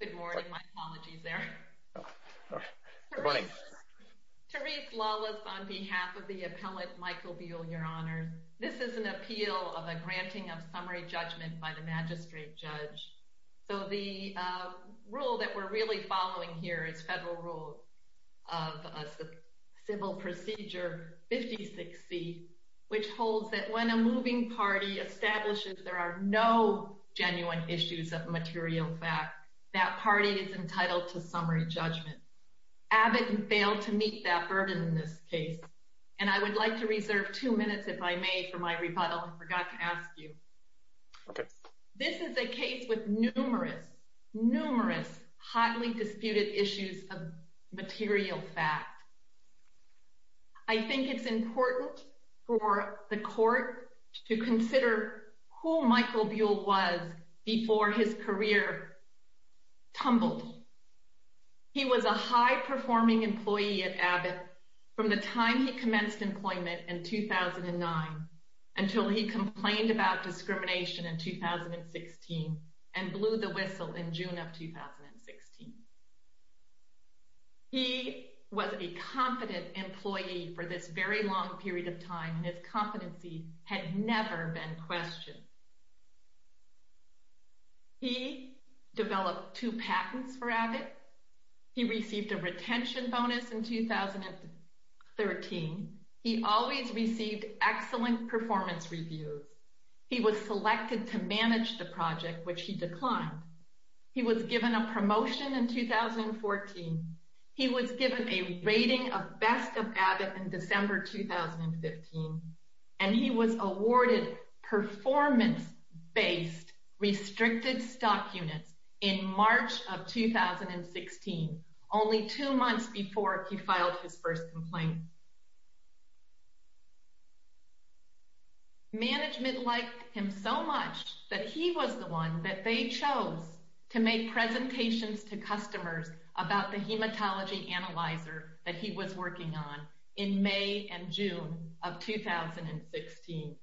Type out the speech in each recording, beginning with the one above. Good morning. My apologies there. Good morning. Therese Lawless on behalf of the appellate Michael Buhl, your honor. This is an appeal of a granting of summary judgment by the magistrate judge. So the rule that we're really following here is federal rule of civil procedure 56C, which holds that when a moving party establishes there are no genuine issues of material fact, that party is entitled to summary judgment. Abbott failed to meet that burden in this case. And I would like to reserve two minutes, if I may, for my rebuttal. I forgot to ask you. This is a case with numerous, numerous hotly disputed issues of material fact. I think it's important for the court to consider who Michael Buhl was before his career tumbled. He was a high-performing employee at Abbott from the time he commenced employment in 2009 until he complained about discrimination in 2016 and blew the whistle in June of 2016. He was a confident employee for this very long period of time, and his competency had never been questioned. He developed two patents for Abbott. He received a retention bonus in 2013. He always received excellent performance reviews. He was selected to manage the project, which he declined. He was given a promotion in 2014. He was given a rating of best of Abbott in December 2015. And he was awarded performance-based restricted stock units in March of 2016, only two months before he filed his first complaint. Management liked him so much that he was the one that they chose to make presentations to customers about the hematology analyzer that he was working on in May and June of 2016.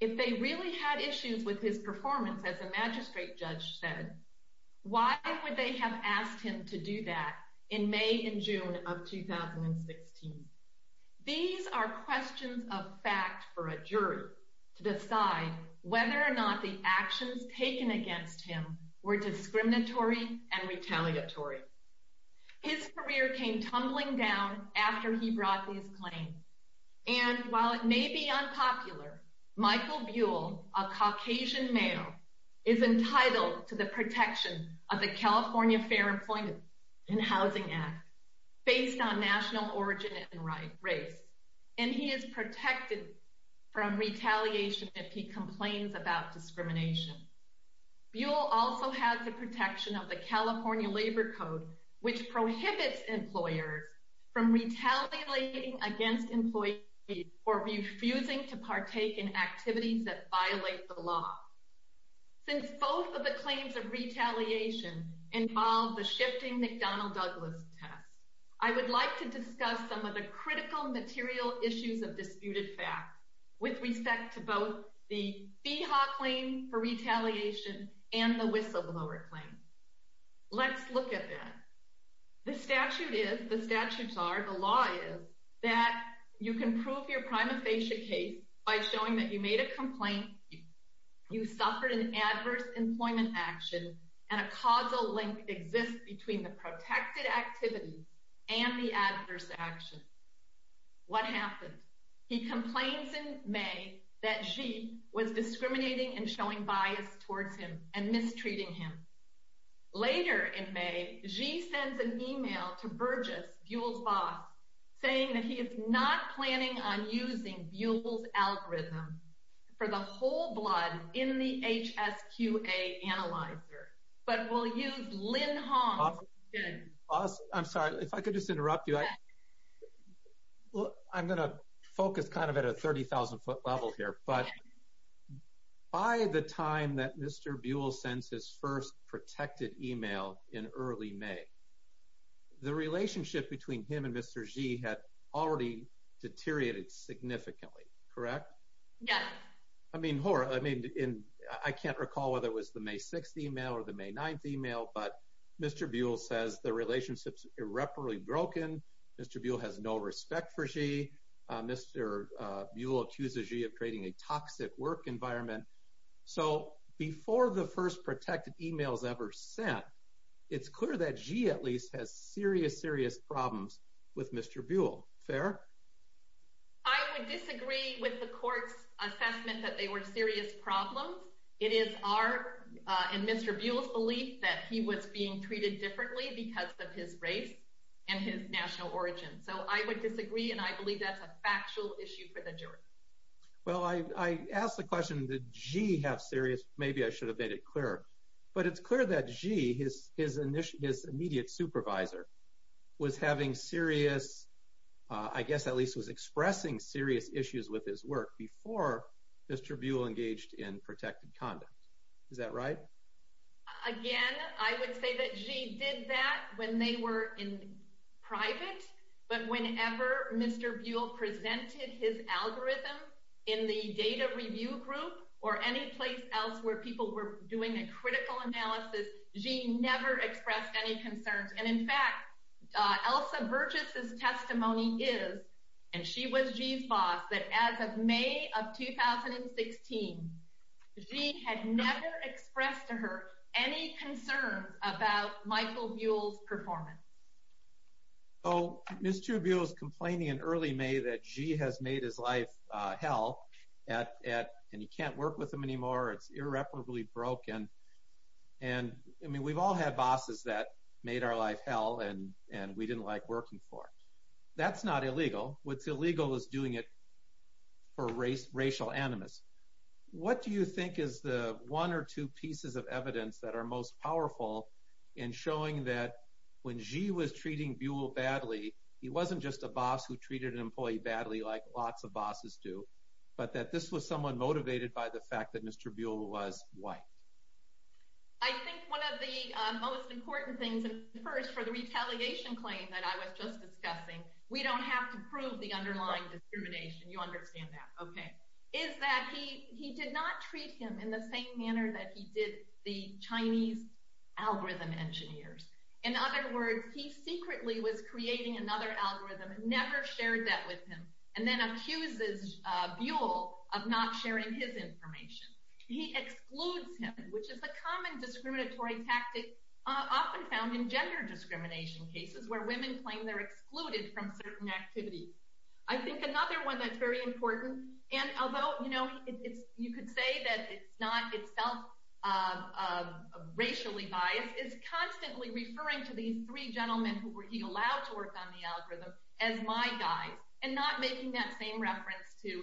If they really had issues with his performance, as a magistrate judge said, why would they have asked him to do that in May and June of 2016? These are questions of fact for a jury to decide whether or not the actions taken against him were discriminatory and retaliatory. His career came tumbling down after he brought these claims. And while it may be unpopular, Michael Buell, a Caucasian male, is entitled to the protection of the California Fair Employment and Housing Act based on national origin and race. And he is protected from retaliation if he complains about discrimination. Buell also has the protection of the California Labor Code, which prohibits employers from retaliating against employees or refusing to partake in activities that violate the law. Since both of the claims of retaliation involve the shifting McDonnell-Douglas test, I would like to discuss some of the critical material issues of disputed facts with respect to both the FEHA claim for retaliation and the whistleblower claim. Let's look at that. The statute is, the statutes are, the law is, that you can prove your prima facie case by showing that you made a complaint, you suffered an adverse employment action, and a causal link exists between the protected activities and the adverse action. What happened? He complains in May that Xi was discriminating and showing bias towards him and mistreating him. Later in May, Xi sends an email to Burgess, Buell's boss, saying that he is not planning on using Buell's algorithm for the whole blood in the HSQA analyzer, but will use Lin Hong's. I'm sorry, if I could just interrupt you. I'm going to focus kind of at a 30,000-foot level here, but by the time that Mr. Buell sends his first protected email in early May, the relationship between him and Mr. Xi had already deteriorated significantly, correct? Yes. I mean, I can't recall whether it was the May 6th email or the May 9th email, but Mr. Buell says the relationship is irreparably broken. Mr. Buell has no respect for Xi. Mr. Buell accuses Xi of creating a toxic work environment. So before the first protected emails ever sent, it's clear that Xi at least has serious, serious problems with Mr. Buell. Fair? I would disagree with the court's assessment that they were serious problems. It is our and Mr. Buell's belief that he was being treated differently because of his race and his national origin. So I would disagree, and I believe that's a factual issue for the jury. Well, I asked the question, did Xi have serious, maybe I should have made it clearer, but it's clear that Xi, his immediate supervisor, was having serious, I guess at least was expressing serious issues with his work before Mr. Buell engaged in protected conduct. Is that right? Again, I would say that Xi did that when they were in private, but whenever Mr. Buell presented his algorithm in the data review group or any place else where people were doing a critical analysis, Xi never expressed any concerns. And in fact, Elsa Virgis' testimony is, and she was Xi's boss, that as of May of 2016, Xi had never expressed to her any concerns about Michael Buell's performance. So Mr. Buell is complaining in early May that Xi has made his life hell, and he can't work with him anymore, it's irreparably broken. And I mean, we've all had bosses that made our life hell and we didn't like working for. That's not illegal. What's illegal is doing it for racial animus. What do you think is the one or two pieces of evidence that are most powerful in showing that when Xi was treating Buell badly, he wasn't just a boss who treated an employee badly like lots of bosses do, but that this was someone motivated by the fact that Mr. Buell was white? I think one of the most important things, and first for the retaliation claim that I was just discussing, we don't have to prove the underlying discrimination, you understand that, okay, is that he did not treat him in the same manner that he did the Chinese algorithm engineers. In other words, he secretly was creating another algorithm, never shared that with him, and then accuses Buell of not sharing his information. He excludes him, which is a common discriminatory tactic often found in gender discrimination cases, where women claim they're excluded from certain activities. I think another one that's very important, and although you could say that it's not itself racially biased, is constantly referring to these three gentlemen who were he allowed to work on the algorithm as my guys, and not making that same reference to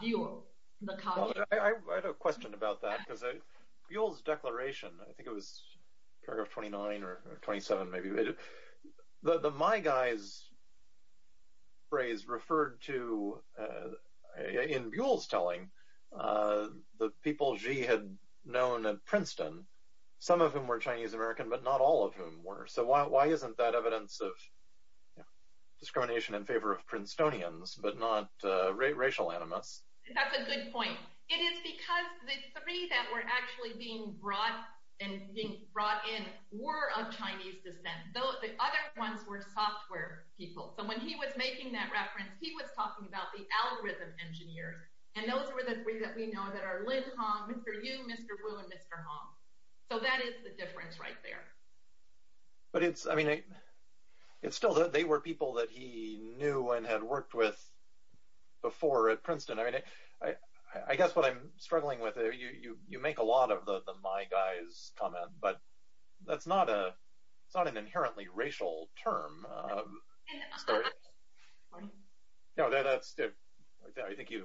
Buell. I had a question about that, because Buell's declaration, I think it was paragraph 29 or 27 maybe, the my guys phrase referred to, in Buell's telling, the people Xi had known at Princeton, some of whom were Chinese American, but not all of whom were. So why isn't that evidence of discrimination in favor of Princetonians, but not racial animus? That's a good point. It is because the three that were actually being brought in were of Chinese descent. The other ones were software people. So when he was making that reference, he was talking about the algorithm engineers, and those were the three that we know that are Lin Hong, Mr. Yu, Mr. Wu, and Mr. Hong. So that is the difference right there. But it's still that they were people that he knew and had worked with before at Princeton. I guess what I'm struggling with, you make a lot of the my guys comment, but that's not an inherently racial term. I think you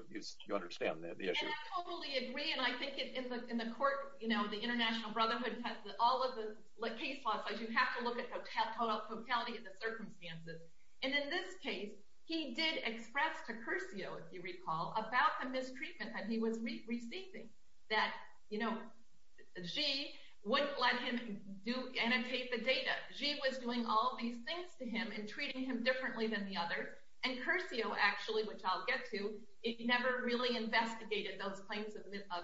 understand the issue. I totally agree, and I think in the court, the International Brotherhood has all of the case laws, so you have to look at the totality of the circumstances. In this case, he did express to Curcio, if you recall, about the mistreatment that he was receiving, that Xi wouldn't let him annotate the data. Xi was doing all of these things to him and treating him differently than the others, and Curcio actually, which I'll get to, never really investigated those claims of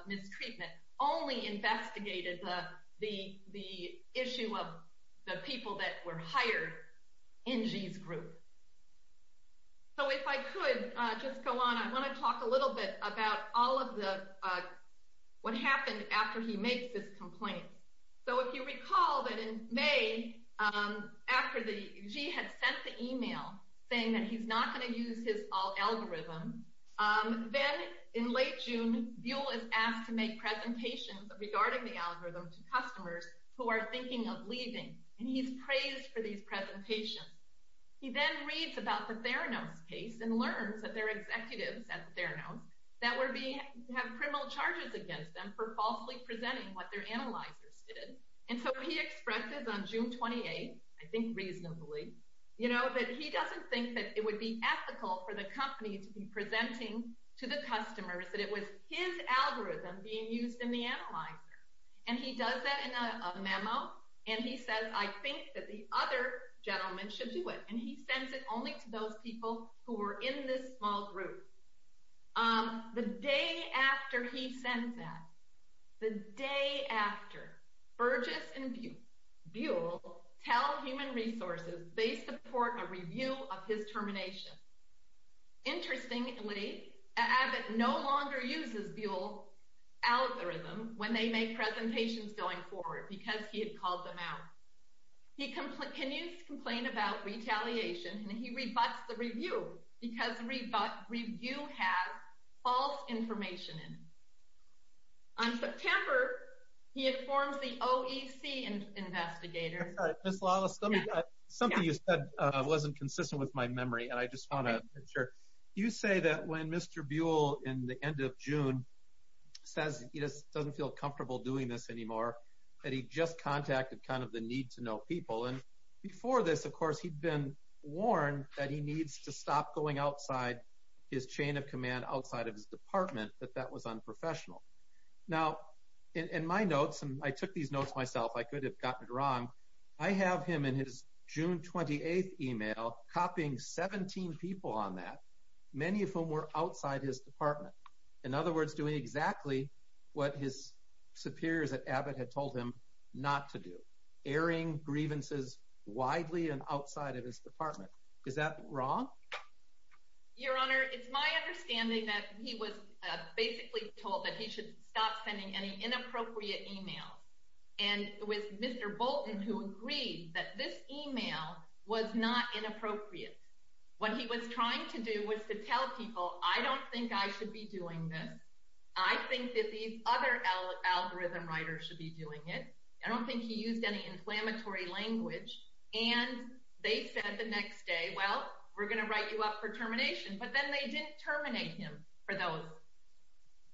mistreatment, only investigated the issue of the people that were hired in Xi's group. So if I could just go on, I want to talk a little bit about what happened after he makes his complaint. So if you recall that in May, after Xi had sent the email saying that he's not going to use his algorithm, then in late June, Buell is asked to make presentations regarding the algorithm to customers who are thinking of leaving, and he's praised for these presentations. He then reads about the Theranos case and learns that their executives at Theranos have criminal charges against them for falsely presenting what their analyzers did, and so he expresses on June 28th, I think reasonably, that he doesn't think that it would be ethical for the company to be presenting to the customers that it was his algorithm being used in the analyzer, and he does that in a memo, and he says, I think that the other gentlemen should do it, and he sends it only to those people who were in this small group. The day after he sends that, the day after, Burgess and Buell tell Human Resources they support a review of his termination. Interestingly, Abbott no longer uses Buell's algorithm when they make presentations going forward because he had called them out. He continues to complain about retaliation, and he rebuts the review because the review has false information in it. On September, he informs the OEC investigators. Sorry, Ms. Lawless, something you said wasn't consistent with my memory, and I just want to make sure. You say that when Mr. Buell, in the end of June, says he doesn't feel comfortable doing this anymore, that he just contacted kind of the need-to-know people, and before this, of course, he'd been warned that he needs to stop going outside his chain of command, outside of his department, that that was unprofessional. Now, in my notes, and I took these notes myself, I could have gotten it wrong, I have him in his June 28th email copying 17 people on that, many of whom were outside his department. In other words, doing exactly what his superiors at Abbott had told him not to do, airing grievances widely and outside of his department. Is that wrong? Your Honor, it's my understanding that he was basically told that he should stop sending any inappropriate emails, and it was Mr. Bolton who agreed that this email was not inappropriate. What he was trying to do was to tell people, I don't think I should be doing this, I think that these other algorithm writers should be doing it, I don't think he used any inflammatory language, and they said the next day, well, we're going to write you up for termination, but then they didn't terminate him for those.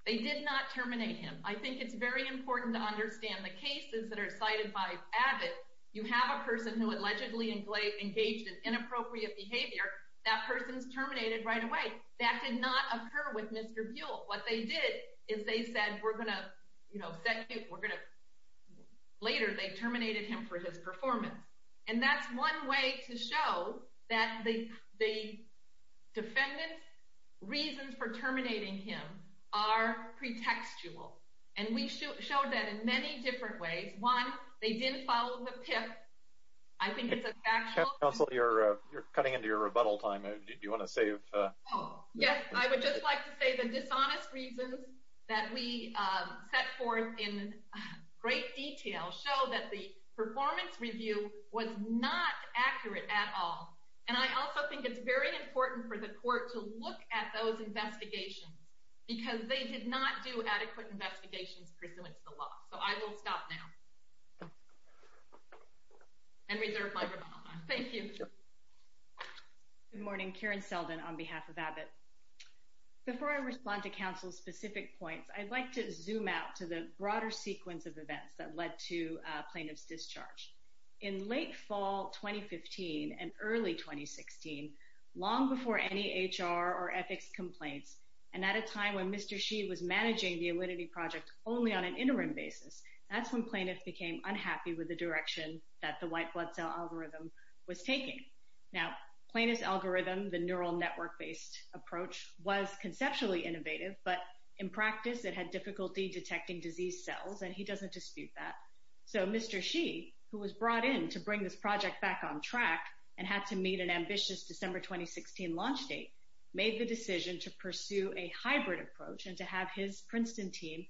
They did not terminate him. I think it's very important to understand the cases that are cited by Abbott. You have a person who allegedly engaged in inappropriate behavior, that person's terminated right away. That did not occur with Mr. Buell. What they did is they said, we're going to, you know, later they terminated him for his performance. And that's one way to show that the defendant's reasons for terminating him are pretextual. And we showed that in many different ways. One, they didn't follow the PIP. I think it's a factual. Counsel, you're cutting into your rebuttal time. Do you want to save? Yes, I would just like to say the dishonest reasons that we set forth in great detail show that the performance review was not accurate at all. And I also think it's very important for the court to look at those investigations because they did not do adequate investigations pursuant to the law. So I will stop now and reserve my rebuttal time. Thank you. Good morning. Karen Selden on behalf of Abbott. Before I respond to counsel's specific points, I'd like to zoom out to the broader sequence of events that led to plaintiff's discharge. In late fall 2015 and early 2016, long before any HR or ethics complaints, and at a time when Mr. Shih was managing the Alinity project only on an interim basis, that's when plaintiffs became unhappy with the direction that the white blood cell algorithm was taking. Now, plaintiff's algorithm, the neural network-based approach, was conceptually innovative, but in practice it had difficulty detecting disease cells, and he doesn't dispute that. So Mr. Shih, who was brought in to bring this project back on track and had to meet an ambitious December 2016 launch date, made the decision to pursue a hybrid approach and to have his Princeton team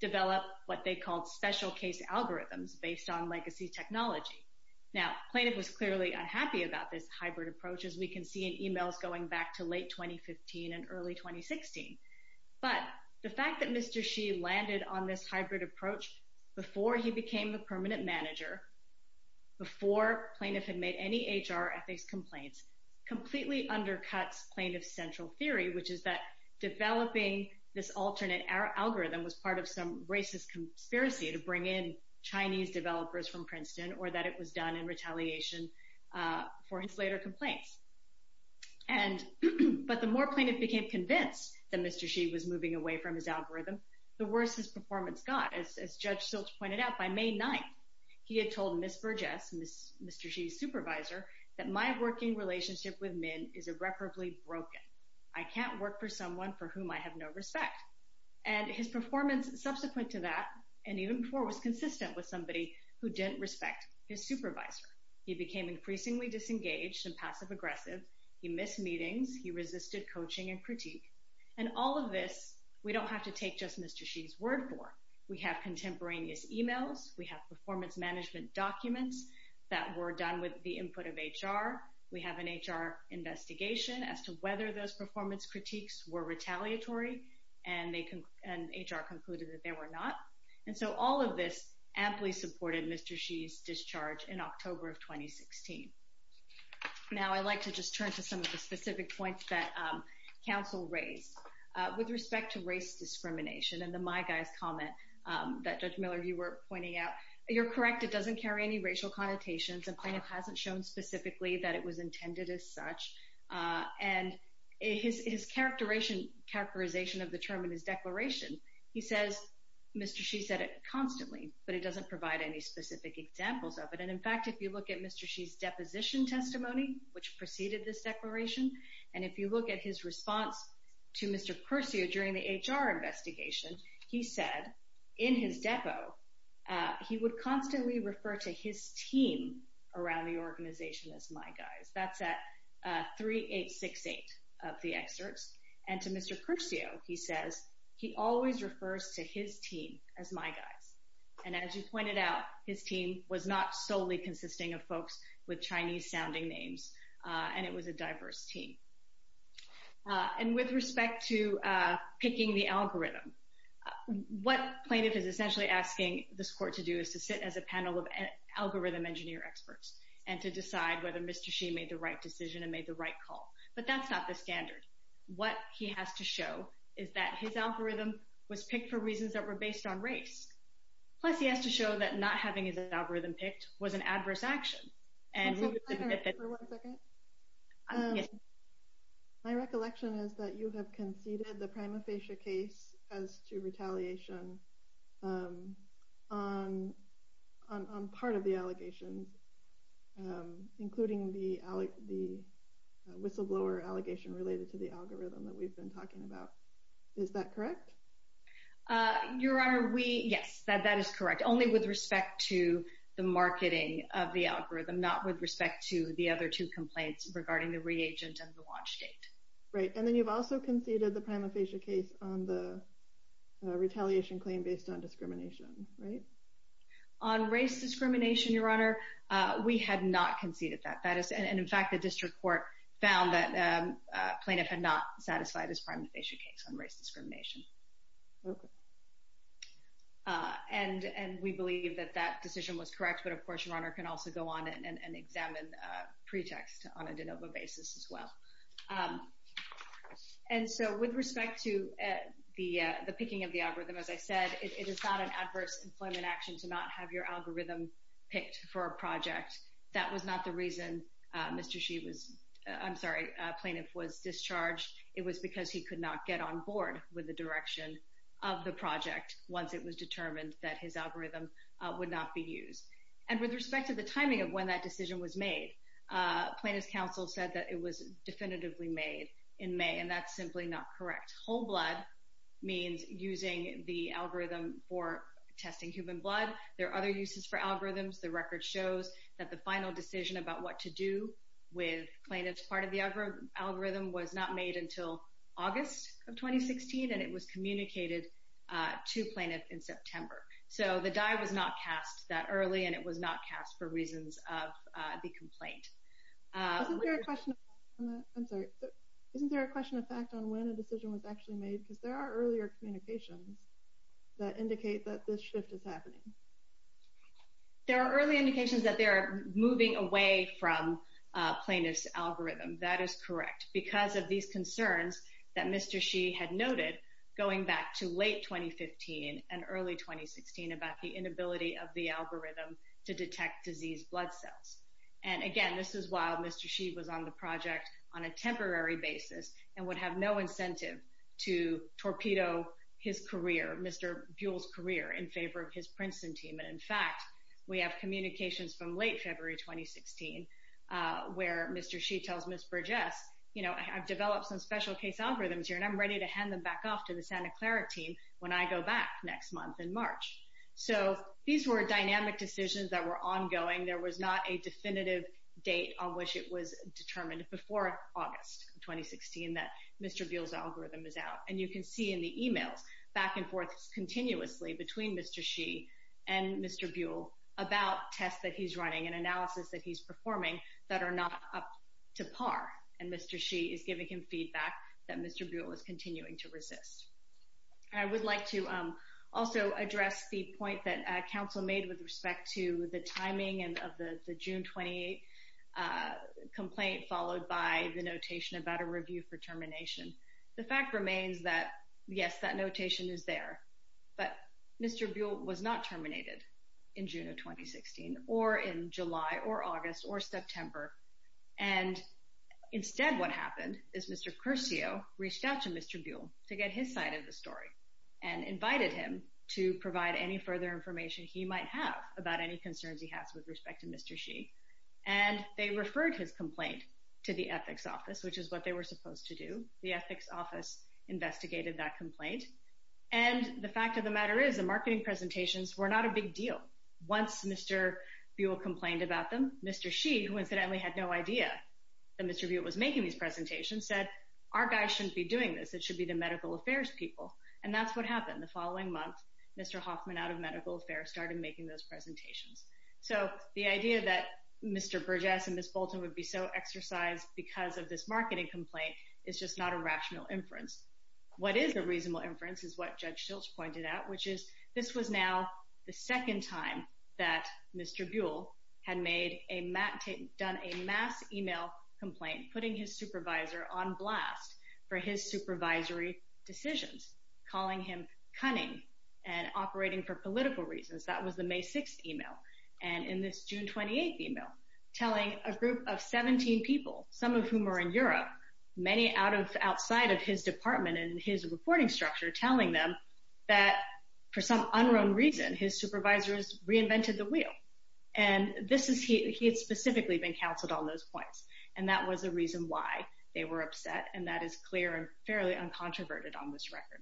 develop what they called special case algorithms based on legacy technology. Now, plaintiff was clearly unhappy about this hybrid approach, as we can see in emails going back to late 2015 and early 2016. But the fact that Mr. Shih landed on this hybrid approach before he became the permanent manager, before plaintiff had made any HR or ethics complaints, completely undercuts plaintiff's central theory, which is that developing this alternate algorithm was part of some racist conspiracy to bring in Chinese developers from Princeton, or that it was done in retaliation for his later complaints. But the more plaintiff became convinced that Mr. Shih was moving away from his algorithm, the worse his performance got. As Judge Silch pointed out, by May 9th, he had told Ms. Burgess, Mr. Shih's supervisor, that my working relationship with men is irreparably broken. I can't work for someone for whom I have no respect. And his performance subsequent to that, and even before, was consistent with somebody who didn't respect his supervisor. He became increasingly disengaged and passive aggressive. He missed meetings. He resisted coaching and critique. And all of this we don't have to take just Mr. Shih's word for. We have contemporaneous emails. We have performance management documents that were done with the input of HR. We have an HR investigation as to whether those performance critiques were retaliatory, and HR concluded that they were not. And so all of this amply supported Mr. Shih's discharge in October of 2016. Now I'd like to just turn to some of the specific points that counsel raised. With respect to race discrimination and the My Guys comment that Judge Miller, you were pointing out, you're correct, it doesn't carry any racial connotations. The plaintiff hasn't shown specifically that it was intended as such. And his characterization of the term in his declaration, he says Mr. Shih said it constantly, but he doesn't provide any specific examples of it. And, in fact, if you look at Mr. Shih's deposition testimony, which preceded this declaration, and if you look at his response to Mr. Curcio during the HR investigation, he said in his depo he would constantly refer to his team around the organization as My Guys. That's at 3868 of the excerpts. And to Mr. Curcio he says he always refers to his team as My Guys. And as you pointed out, his team was not solely consisting of folks with Chinese-sounding names, and it was a diverse team. And with respect to picking the algorithm, what plaintiff is essentially asking this court to do is to sit as a panel of algorithm engineer experts and to decide whether Mr. Shih made the right decision and made the right call. But that's not the standard. What he has to show is that his algorithm was picked for reasons that were based on race. Plus he has to show that not having his algorithm picked was an adverse action. Just one second. My recollection is that you have conceded the prima facie case as to retaliation on part of the allegations, including the whistleblower allegation related to the algorithm that we've been talking about. Is that correct? Your Honor, yes. That is correct. Only with respect to the marketing of the algorithm, not with respect to the other two complaints regarding the reagent and the launch date. Right. And then you've also conceded the prima facie case on the retaliation claim based on discrimination, right? On race discrimination, Your Honor, we had not conceded that. And, in fact, the district court found that a plaintiff had not satisfied his prima facie case on race discrimination. Okay. And we believe that that decision was correct. But, of course, Your Honor can also go on and examine pretext on a de novo basis as well. And so with respect to the picking of the algorithm, as I said, it is not an adverse employment action to not have your algorithm picked for a project. That was not the reason Mr. Shee was, I'm sorry, plaintiff was discharged. It was because he could not get on board with the direction of the project once it was determined that his algorithm would not be used. And with respect to the timing of when that decision was made, plaintiff's counsel said that it was definitively made in May. And that's simply not correct. Whole blood means using the algorithm for testing human blood. There are other uses for algorithms. The record shows that the final decision about what to do with plaintiff's part of the algorithm was not made until August of 2016, and it was communicated to plaintiff in September. So the die was not cast that early, and it was not cast for reasons of the complaint. Isn't there a question of fact on when a decision was actually made? Because there are earlier communications that indicate that this shift is happening. There are early indications that they are moving away from plaintiff's algorithm. That is correct because of these concerns that Mr. Shee had noted going back to late 2015 and early 2016 about the inability of the algorithm to detect diseased blood cells. And again, this is while Mr. Shee was on the project on a temporary basis and would have no incentive to torpedo his career, Mr. Buell's career, in favor of his Princeton team. And, in fact, we have communications from late February 2016 where Mr. Shee tells Ms. Burgess, you know, I've developed some special case algorithms here, and I'm ready to hand them back off to the Santa Clara team when I go back next month in March. So these were dynamic decisions that were ongoing. There was not a definitive date on which it was determined before August 2016 that Mr. Buell's algorithm is out. And you can see in the emails back and forth continuously between Mr. Shee and Mr. Buell about tests that he's running and analysis that he's performing that are not up to par. And Mr. Shee is giving him feedback that Mr. Buell is continuing to resist. I would like to also address the point that counsel made with respect to the timing of the June 28 complaint followed by the notation about a review for termination. The fact remains that, yes, that notation is there, but Mr. Buell was not terminated in June of 2016 or in July or August or September. And instead what happened is Mr. Curcio reached out to Mr. Buell to get his side of the story and invited him to provide any further information he might have about any concerns he has with respect to Mr. Shee. And they referred his complaint to the ethics office, which is what they were supposed to do. The ethics office investigated that complaint. And the fact of the matter is the marketing presentations were not a big deal. Once Mr. Buell complained about them, Mr. Shee, who incidentally had no idea that Mr. Buell was making these presentations, said, our guys shouldn't be doing this. It should be the medical affairs people. And that's what happened. The following month, Mr. Hoffman out of medical affairs started making those presentations. So the idea that Mr. Burgess and Ms. Bolton would be so exercised because of this marketing complaint is just not a rational inference. What is a reasonable inference is what Judge Shilts pointed out, which is this was now the second time that Mr. Buell had made a mass e-mail complaint, putting his supervisor on blast for his supervisory decisions, calling him cunning and operating for political reasons. That was the May 6th e-mail. And in this June 28th e-mail, telling a group of 17 people, some of whom are in Europe, many outside of his department and his reporting structure, telling them that for some unknown reason, his supervisors reinvented the wheel. And he had specifically been counseled on those points. And that was the reason why they were upset. And that is clear and fairly uncontroverted on this record.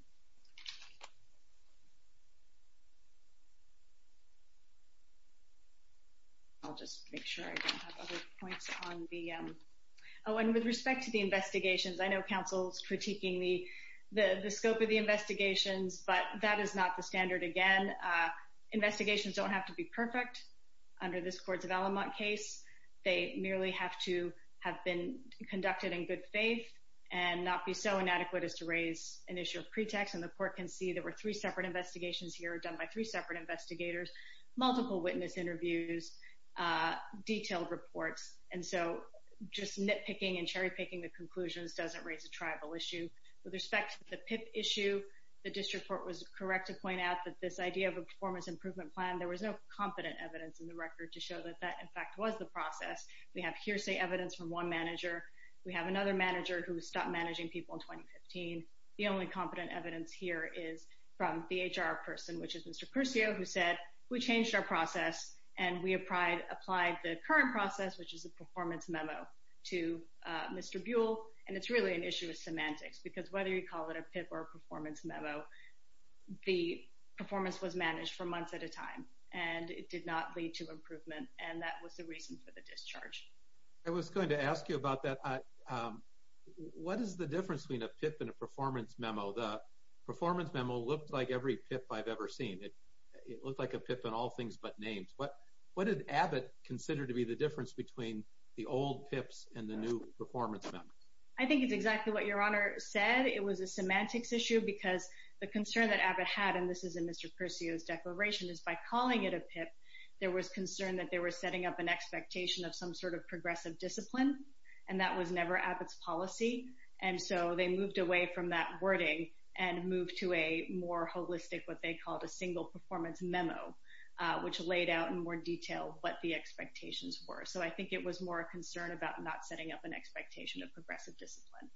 I'll just make sure I don't have other points on the... Oh, and with respect to the investigations, I know counsel's critiquing the scope of the investigations, but that is not the standard again. Investigations don't have to be perfect under this Courts of Alamont case. They merely have to have been conducted in good faith and not be so inadequate as to raise an issue of pretext. And the court can see there were three separate investigations here, done by three separate investigators, multiple witness interviews, detailed reports. And so just nitpicking and cherry-picking the conclusions doesn't raise a tribal issue. With respect to the PIP issue, the district court was correct to point out that this idea of a performance improvement plan, there was no competent evidence in the record to show that that, in fact, was the process. We have hearsay evidence from one manager. We have another manager who stopped managing people in 2015. The only competent evidence here is from the HR person, which is Mr. Percio, who said, we changed our process and we applied the current process, which is a performance memo, to Mr. Buell, and it's really an issue of semantics because whether you call it a PIP or a performance memo, the performance was managed for months at a time, and it did not lead to improvement, and that was the reason for the discharge. I was going to ask you about that. What is the difference between a PIP and a performance memo? The performance memo looked like every PIP I've ever seen. It looked like a PIP on all things but names. What did Abbott consider to be the difference between the old PIPs and the new performance memos? I think it's exactly what Your Honor said. It was a semantics issue because the concern that Abbott had, and this is in Mr. Percio's declaration, is by calling it a PIP, there was concern that they were setting up an expectation of some sort of progressive discipline, and that was never Abbott's policy, and so they moved away from that wording and moved to a more holistic, what they called a single performance memo, which laid out in more detail what the expectations were. So I think it was more a concern about not setting up an expectation of progressive discipline.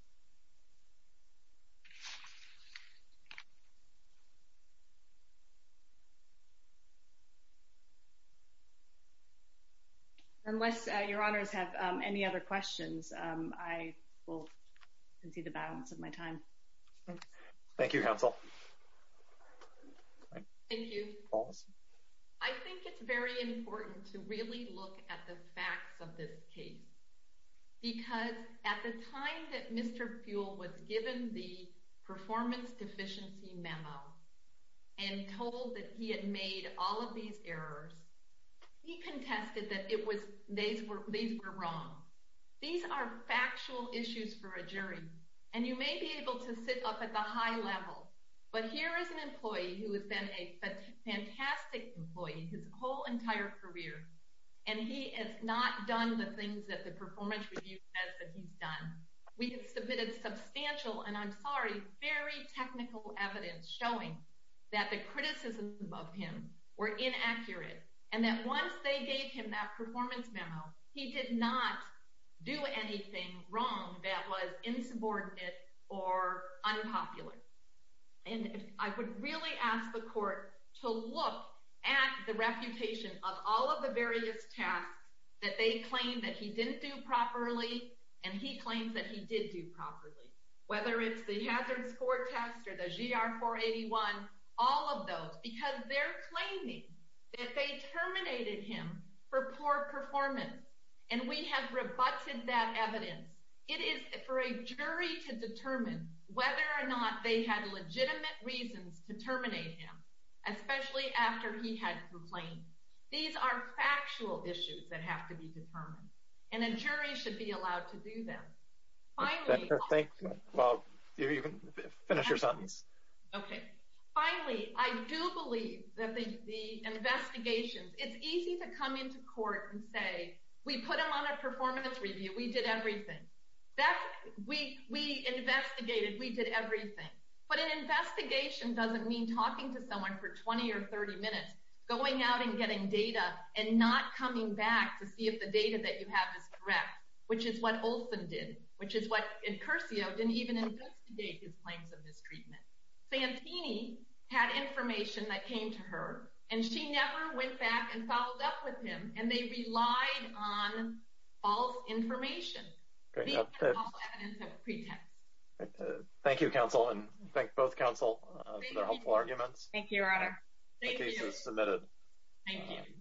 Unless Your Honors have any other questions, I will concede the balance of my time. Thank you, Counsel. Thank you. I think it's very important to really look at the facts of this case because at the time that Mr. Buell was given the performance deficiency memo and told that he had made all of these errors, he contested that these were wrong. These are factual issues for a jury, and you may be able to sit up at the high level but here is an employee who has been a fantastic employee his whole entire career, and he has not done the things that the performance review says that he's done. We have submitted substantial, and I'm sorry, very technical evidence showing that the criticisms of him were inaccurate, and that once they gave him that performance memo, he did not do anything wrong that was insubordinate or unpopular. And I would really ask the Court to look at the reputation of all of the various tasks that they claim that he didn't do properly and he claims that he did do properly, whether it's the hazard score test or the GR 481, all of those, because they're claiming that they terminated him for poor performance, and we have rebutted that evidence. It is for a jury to determine whether or not they had legitimate reasons to terminate him, especially after he had complained. These are factual issues that have to be determined, and a jury should be allowed to do them. Finally— Thank you. You can finish your sentence. Okay. Finally, I do believe that the investigations—it's easy to come into court and say, we put him on a performance review, we did everything. We investigated, we did everything. But an investigation doesn't mean talking to someone for 20 or 30 minutes, going out and getting data and not coming back to see if the data that you have is correct, which is what Olson did, which is what—and Curcio didn't even investigate his claims of mistreatment. Santini had information that came to her, and she never went back and followed up with him, and they relied on false information. These are also evidence of a pretext. Thank you, counsel, and thank both counsel for their helpful arguments. Thank you, Your Honor. Thank you. The case is submitted. Thank you.